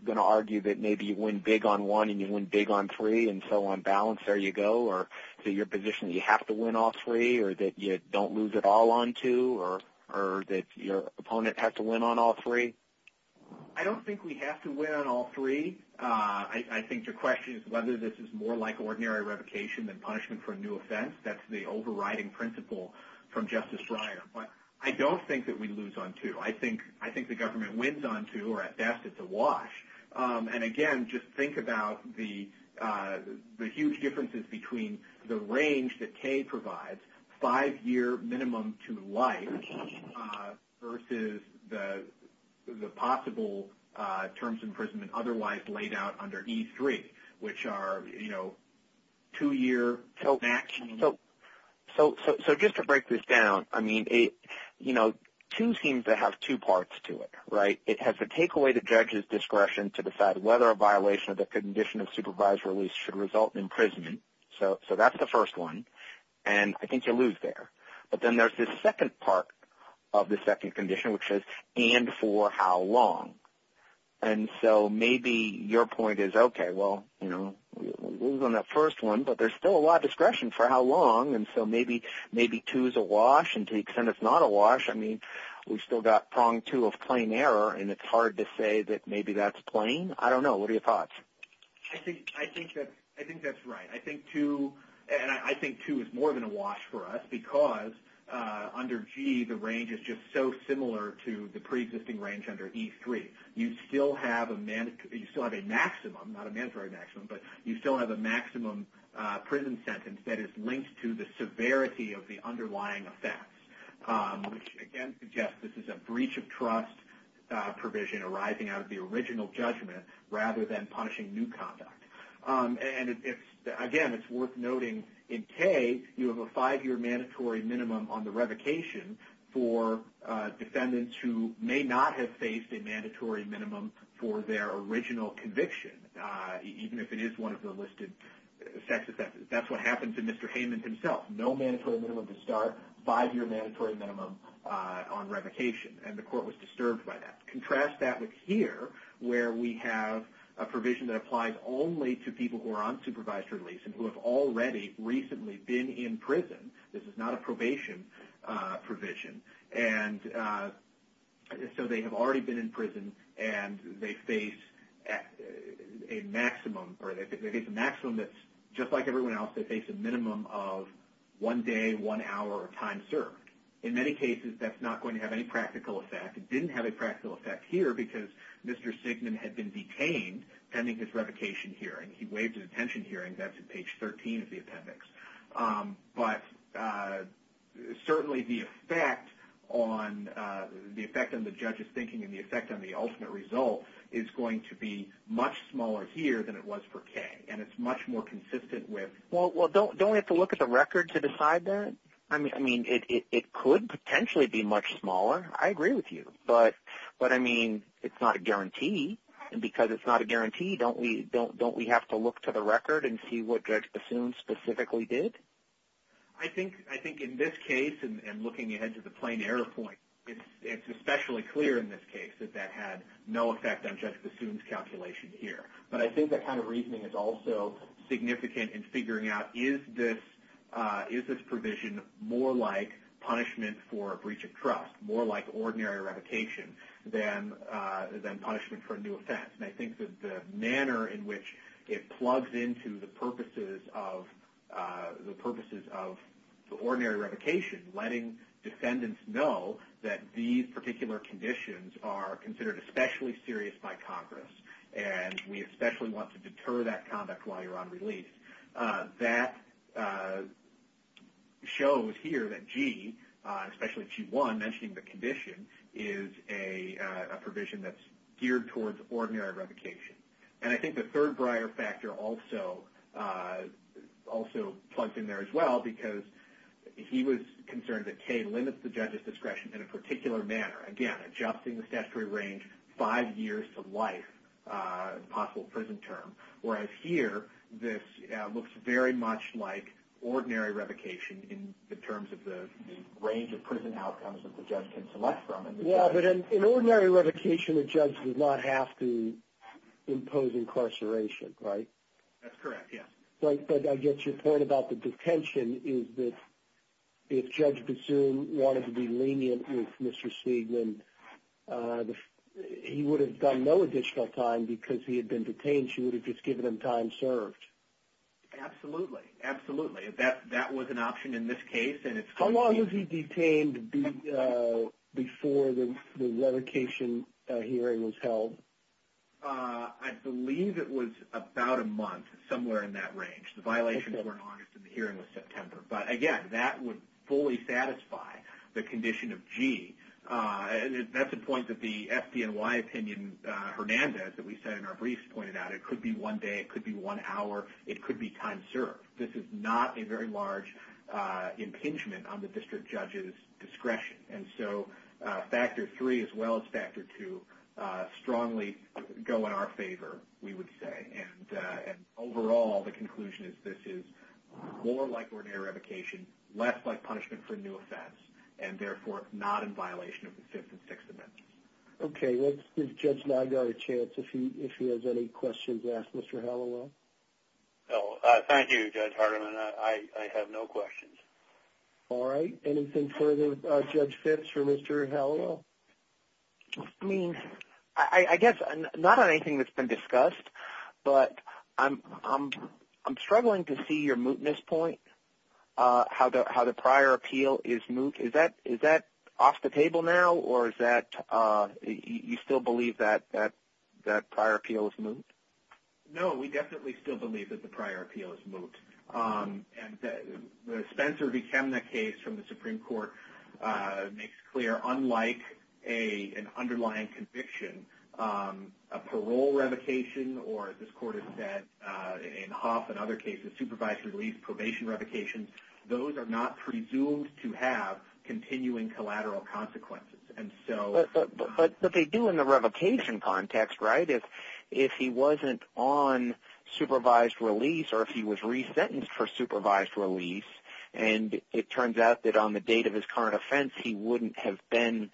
going to argue that maybe you win big on one and you win big on three, and so on balance there you go? Or is it your position that you have to win all three or that you don't lose it all on two or that your opponent has to win on all three? I don't think we have to win on all three. I think your question is whether this is more like ordinary revocation than punishment for a new offense. That's the overriding principle from Justice Breyer. But I don't think that we lose on two. I think the government wins on two, or at best it's a wash. And again, just think about the huge differences between the range that Kay provides, five year minimum to life versus the possible terms of imprisonment otherwise laid out under E3, which are, you know, two year maximum. So just to break this down, I mean, you know, two seems to have two parts to it, right? It has to take away the judge's discretion to decide whether a violation of the condition of supervised release should result in imprisonment. So that's the first one. And I think you lose there. But then there's this second part of the second condition, which is and for how long? And so maybe your point is, okay, well, you know, we lose on that first one, but there's still a lot of discretion for how long. And so maybe two is a wash. And to the extent it's not a wash, I mean, we've still got prong two of plain error, and it's hard to say that maybe that's plain. I don't know. What are your thoughts? I think that's right. I think two is more than a wash for us because under G, the range is just so similar to the preexisting range under E3. You still have a maximum, not a mandatory maximum, but you still have a maximum sentence that is linked to the severity of the underlying effects, which again suggests this is a breach of trust provision arising out of the original judgment rather than punishing new conduct. And again, it's worth noting in K, you have a five-year mandatory minimum on the revocation for defendants who may not have faced a mandatory minimum for their original conviction, even if it is one of the listed sex offenses. That's what happened to Mr. Heyman himself. No mandatory minimum to start, five-year mandatory minimum on revocation, and the court was disturbed by that. Contrast that with here where we have a provision that applies only to people who are on supervised release and who have already recently been in prison. This is not a probation provision. And so they have already been in prison, and they face a maximum that's just like everyone else. They face a minimum of one day, one hour, or time served. In many cases, that's not going to have any practical effect. It didn't have a practical effect here because Mr. Signan had been detained pending his revocation hearing. He waived his detention hearing. That's at page 13 of the appendix. But certainly the effect on the judge's thinking and the effect on the ultimate result is going to be much smaller here than it was for Kay. And it's much more consistent with... Well, don't we have to look at the record to decide that? I mean, it could potentially be much smaller. I agree with you. But I mean, it's not a guarantee. And because it's not a guarantee, don't we have to look to the record and see what Judge Signan did? I think in this case, and looking ahead to the plain error point, it's especially clear in this case that that had no effect on Judge Bassoon's calculation here. But I think that kind of reasoning is also significant in figuring out, is this provision more like punishment for a breach of trust, more like ordinary revocation than punishment for a new offense? And I think that the manner in which it plugs into the purposes of the ordinary revocation, letting defendants know that these particular conditions are considered especially serious by Congress, and we especially want to deter that conduct while you're on release, that shows here that G, especially G1, mentioning the condition, is a provision that's geared towards ordinary revocation. And I think the third briar factor also plugs in there as well, because he was concerned that K limits the judge's discretion in a particular manner. Again, adjusting the statutory range five years to life, a possible prison term. Whereas here, this looks very much like ordinary revocation in terms of the range of prison outcomes that the judge can select from. Well, but in ordinary revocation, a judge does not have to impose incarceration, right? That's correct, yes. But I guess your point about the detention is that if Judge Bassoon wanted to be lenient with Mr. Seidman, he would have done no additional time because he had been detained. She would have just given him time served. Absolutely. Absolutely. That was an option in this case. How long was he detained before the revocation hearing was held? I believe it was about a month, somewhere in that range. The violations were in August and the hearing was September. But again, that would fully satisfy the condition of G. That's a point that the FDNY opinion, Hernandez, that we said in our briefs, pointed out. It could be one day. It could be one hour. It could be time served. This is not a very large impingement on the district judge's discretion. And so, factor three, as well as factor two, strongly go in our favor, we would say. And overall, the conclusion is this is more like ordinary revocation, less like punishment for a new offense, and therefore not in violation of the Fifth and Sixth Amendments. Okay. Let's give Judge Nygard a chance, if he has any questions. Ask Mr. Hallowell. No. Thank you, Judge Hardiman. I have no questions. All right. Anything further, Judge Phipps or Mr. Hallowell? I mean, I guess not on anything that's been discussed, but I'm struggling to see your mootness point, how the prior appeal is moot. Is that off the table now, or is that you still believe that prior appeal is moot? No. We definitely still believe that the prior appeal is moot. And the Spencer v. Chemnitz case from the Supreme Court makes clear, unlike an underlying conviction, a parole revocation, or as this Court has said, in Huff and other cases, supervised release, probation revocations, those are not presumed to have continuing collateral consequences. And so... But they do in the revocation context, right? If he wasn't on supervised release, or if he was resentenced for supervised release, and it turns out that on the date of his current offense, he wouldn't have been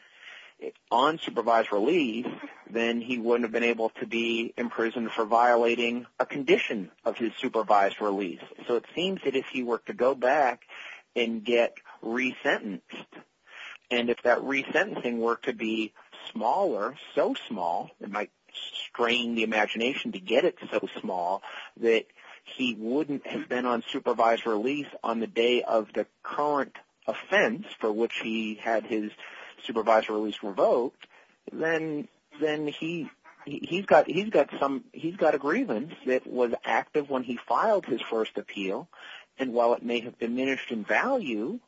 on supervised release, then he wouldn't have been able to be in prison for violating a condition of his supervised release. So it seems that if he were to go back and get resentenced, and if that resentencing were to be smaller, so small, it might strain the imagination to get it so small, that he wouldn't have been on supervised release on the day of the current offense for which he had his supervised release revoked, then he's got a grievance that was active when he filed his first appeal, and while it may have diminished in value,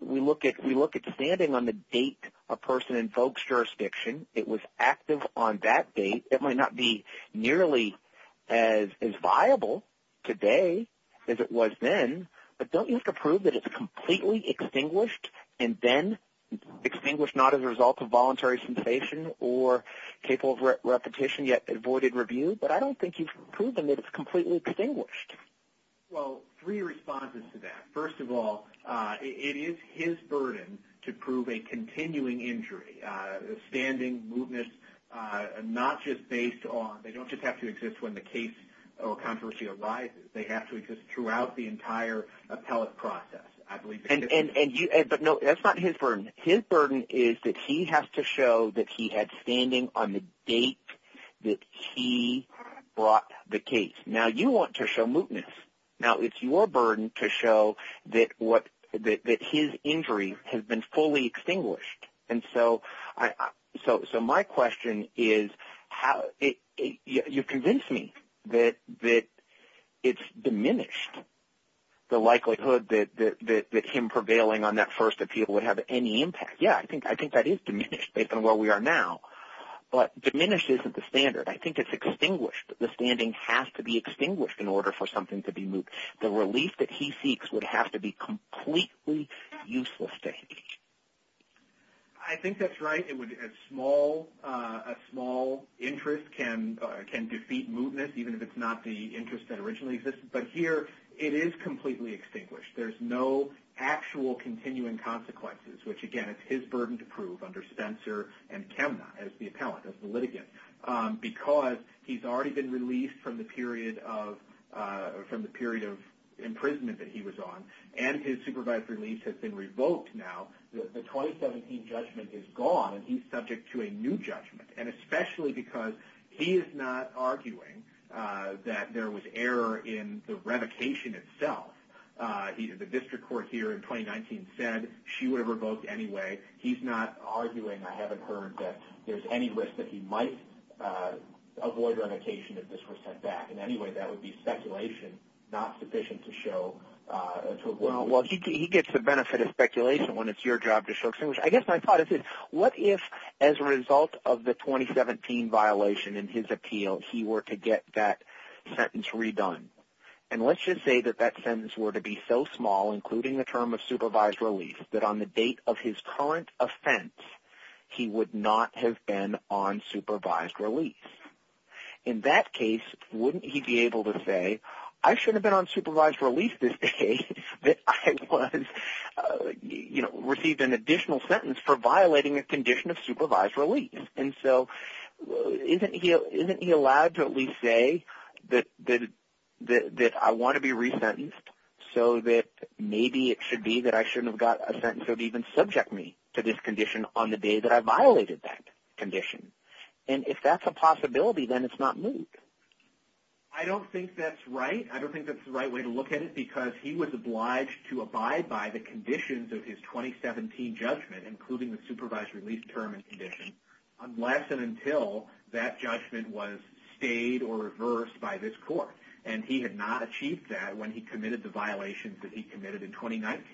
we look at standing on the date a person invokes jurisdiction, it was active on that date, it might not be nearly as viable today as it was then, but don't you have to prove that it's completely extinguished, and then extinguished not as a result of voluntary cessation, or capable of repetition, yet avoided review? But I don't think you've proven that it's completely extinguished. Well, three responses to that. First of all, it is his burden to prove a continuing injury, standing, mootness, not just based on, they don't just have to exist when the case or controversy arises, they have to exist throughout the entire appellate process. I believe that's the case. But no, that's not his burden, his burden is that he has to show that he had standing on the date that he brought the case. Now you want to show mootness, now it's your burden to show that his injury has been fully extinguished, and so my question is, you've convinced me that it's diminished, the likelihood that him prevailing on that first appeal would have any impact. Yeah, I think that is diminished based on where we are now, but diminished isn't the standard, I think it's extinguished. The standing has to be extinguished in order for something to be moot. The relief that he seeks would have to be completely useless to him. I think that's right, a small interest can defeat mootness, even if it's not the interest that originally existed. But here, it is completely extinguished. There's no actual continuing consequences, which again, it's his burden to prove under from the period of imprisonment that he was on, and his supervised relief has been revoked now. The 2017 judgment is gone and he's subject to a new judgment, and especially because he is not arguing that there was error in the revocation itself. The district court here in 2019 said she would have revoked anyway. He's not arguing, I haven't heard, that there's any risk that he might avoid revocation if this were set back. In any way, that would be speculation, not sufficient to show, to avoid revocation. Well, he gets the benefit of speculation when it's your job to show extinguishment. I guess my thought is, what if as a result of the 2017 violation in his appeal, he were to get that sentence redone? Let's just say that that sentence were to be so small, including the term of supervised relief, that on the date of his current offense, he would not have been on supervised relief. In that case, wouldn't he be able to say, I shouldn't have been on supervised relief this day that I was, you know, received an additional sentence for violating a condition of supervised relief. And so, isn't he allowed to at least say that I want to be resentenced so that maybe it should be that I shouldn't have got a sentence that would even subject me to this condition on the day that I violated that condition. And if that's a possibility, then it's not moot. I don't think that's right. I don't think that's the right way to look at it, because he was obliged to abide by the conditions of his 2017 judgment, including the supervised relief term and condition, unless and until that judgment was stayed or reversed by this court. And he had not achieved that when he committed the violations that he committed in 2019.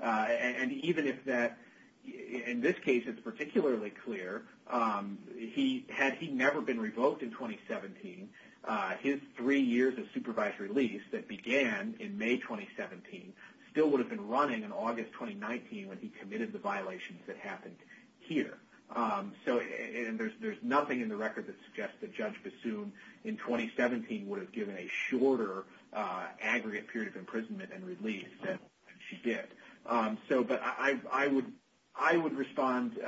And even if that – in this case, it's particularly clear. Had he never been revoked in 2017, his three years of supervised relief that began in May 2017 still would have been running in August 2019 when he committed the violations that happened here. So – and there's nothing in the record that suggests that Judge Bassoon in 2017 would have given a shorter aggregate period of imprisonment and release than she did. So – but I would – I would respond –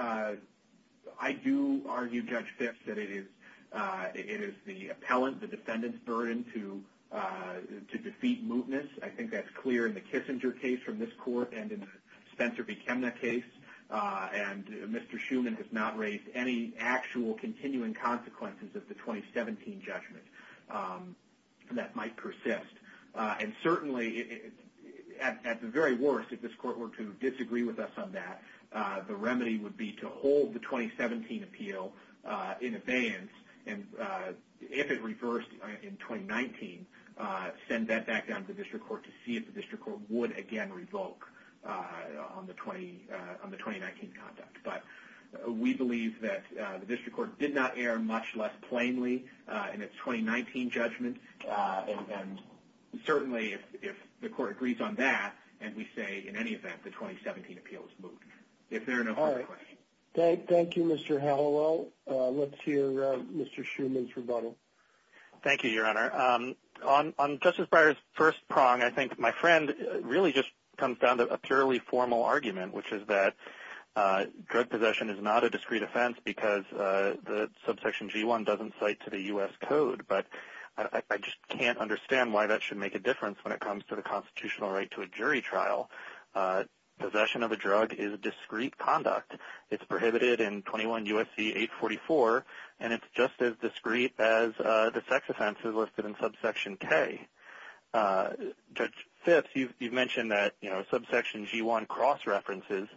I do argue, Judge Fitts, that it is – it is the appellant, the defendant's burden to defeat mootness. I think that's clear in the Kissinger case from this court and in the Spencer v. Chemna case. And Mr. Schuman has not raised any actual continuing consequences of the 2017 judgment. That might persist. And certainly, at the very worst, if this court were to disagree with us on that, the remedy would be to hold the 2017 appeal in abeyance and, if it reversed in 2019, send that back down to the district court to see if the district court would again revoke on the 20 – on the 2019 conduct. But we believe that the district court did not err much less plainly in its 2019 judgment and certainly, if the court agrees on that and we say, in any event, the 2017 appeal is moot. If there are no further questions. All right. Thank you, Mr. Hallowell. Let's hear Mr. Schuman's rebuttal. Thank you, Your Honor. On Justice Breyer's first prong, I think my friend really just comes down to a purely formal argument, which is that drug possession is not a discrete offense because the subsection G1 doesn't cite to the U.S. code. But I just can't understand why that should make a difference when it comes to the constitutional right to a jury trial. Possession of a drug is discrete conduct. It's prohibited in 21 U.S.C. 844 and it's just as discrete as the sex offenses listed in subsection K. Judge Fitts, you've mentioned that, you know, subsection G1 cross-references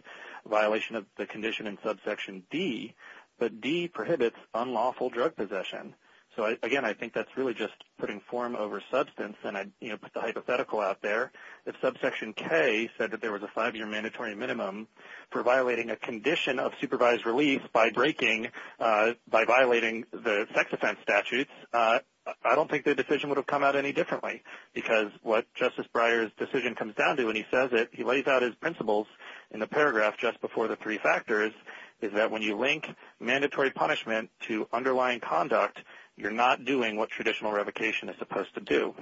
violation of the condition in subsection D, but D prohibits unlawful drug possession. So, again, I think that's really just putting form over substance and I, you know, put the hypothetical out there. If subsection K said that there was a five-year mandatory minimum for violating a condition of supervised release by breaking, by violating the sex offense statutes, I don't think the decision would have come out any differently because what Justice Breyer's decision comes down to when he says it, he lays out his principles in the paragraph just before the three factors, is that when you link mandatory punishment to underlying conduct, you're not doing what traditional revocation is supposed to do.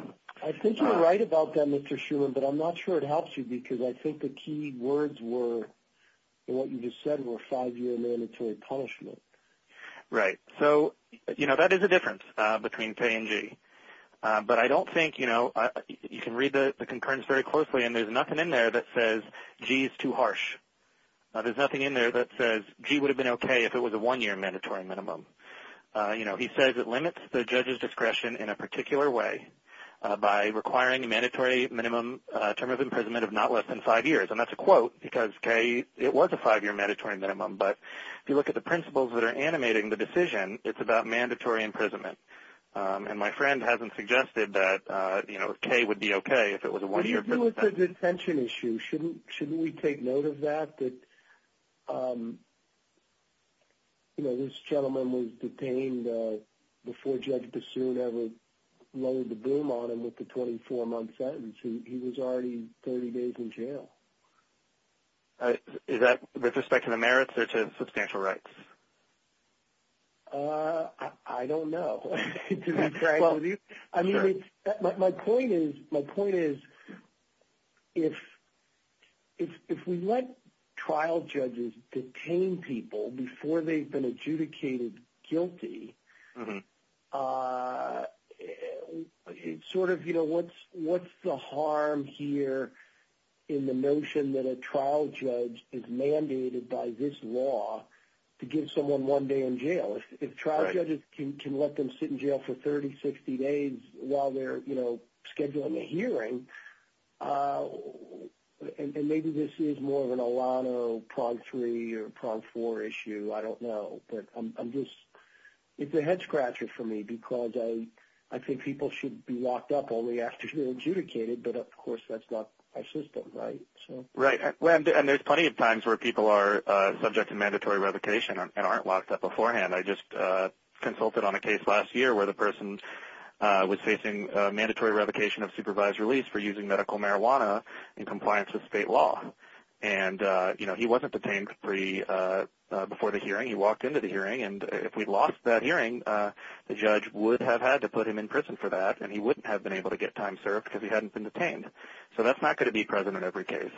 I think you're right about that, Mr. Shuman, but I'm not sure it helps you because I think the key words were, what you just said, were five-year mandatory punishment. Right. So, you know, that is a difference between K and G. But I don't think, you know, you can read the concurrence very closely and there's nothing in there that says G is too harsh. There's nothing in there that says G would have been okay if it was a one-year mandatory minimum. You know, he says it limits the judge's discretion in a particular way by requiring a mandatory minimum term of imprisonment of not less than five years. And that's a quote because K, it was a five-year mandatory minimum, but if you look at the principles that are animating the decision, it's about mandatory imprisonment. And my friend hasn't suggested that, you know, K would be okay if it was a one-year prison sentence. What do you do with the detention issue? Shouldn't we take note of that? That, you know, this gentleman was detained before Judge Bassoon ever loaded the boom on him with the 24-month sentence. He was already 30 days in jail. Is that with respect to the merits or to substantial rights? I don't know. I mean, my point is, my point is if we let trial judges detain people before they've been adjudicated guilty, sort of, you know, what's the harm here in the notion that a trial judge is mandated by this law to give someone one day in jail? If trial judges can let them sit in jail for 30, 60 days while they're, you know, scheduling a hearing, and maybe this is more of an Alano, Prog-3 or Prog-4 issue, I don't know. But I'm just, it's a head-scratcher for me because I think people should be locked up only after they're adjudicated, but of course that's not our system, right? Right, and there's plenty of times where people are subject to mandatory revocation and aren't locked up beforehand. I just consulted on a case last year where the person was facing mandatory revocation of supervised release for using medical marijuana in compliance with state law. And, you know, he wasn't detained before the hearing. He walked into the hearing, and if we lost that hearing, the judge would have had to put him in prison for that, and he wouldn't have been able to get time served because he hadn't been detained. So that's not going to be present in every case.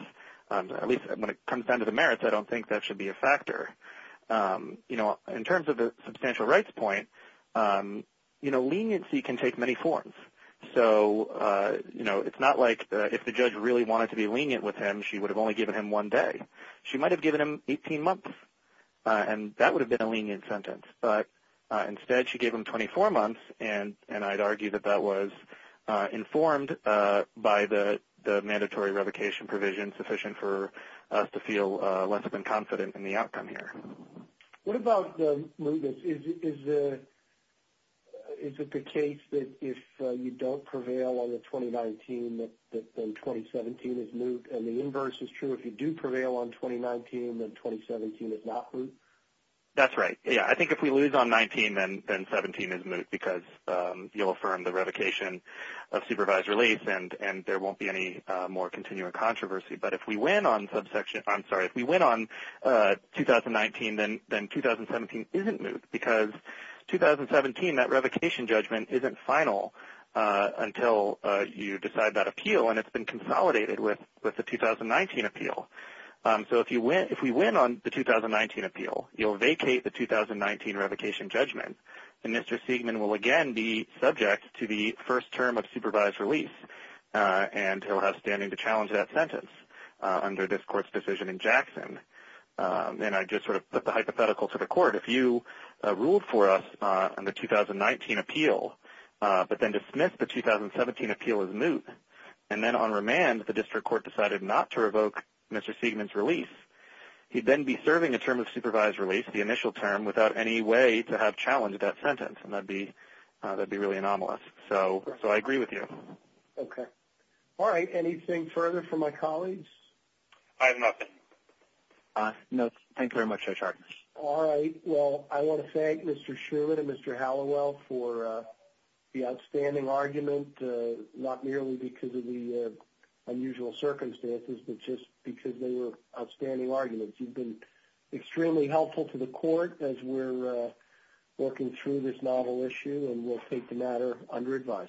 At least when it comes down to the merits, I don't think that should be a factor. You know, in terms of the substantial rights point, you know, leniency can take many forms. So, you know, it's not like if the judge really wanted to be lenient with him, she would have only given him one day. She might have given him 18 months, and that would have been a lenient sentence. But instead, she gave him 24 months, and I'd argue that that was informed by the mandatory revocation provision sufficient for us to feel less than confident in the outcome here. What about the mootness? Is it the case that if you don't prevail on the 2019, then 2017 is moot, and the inverse is true? If you do prevail on 2019, then 2017 is not moot? That's right. Yeah, I think if we lose on 19, then 17 is moot because you'll affirm the revocation of supervised release, and there won't be any more continuing controversy. But if we win on subsection – I'm sorry. If we win on 2019, then 2017 isn't moot because 2017, that revocation judgment isn't final until you decide that appeal, and it's been consolidated with the 2019 appeal. So if we win on the 2019 appeal, you'll vacate the 2019 revocation judgment, and Mr. Siegman will have the first term of supervised release, and he'll have standing to challenge that sentence under this court's decision in Jackson. And I just sort of put the hypothetical to the court. If you ruled for us on the 2019 appeal, but then dismissed the 2017 appeal as moot, and then on remand, the district court decided not to revoke Mr. Siegman's release, he'd then be serving a term of supervised release, the initial term, without any way to have challenged that sentence, and that'd be really anomalous. So I agree with you. Okay. All right. Anything further from my colleagues? I have nothing. No. Thank you very much, Judge Hart. All right. Well, I want to thank Mr. Schumann and Mr. Hallowell for the outstanding argument, not merely because of the unusual circumstances, but just because they were outstanding arguments. You've been extremely helpful to the court as we're working through this novel issue, and we'll take the matter under advice.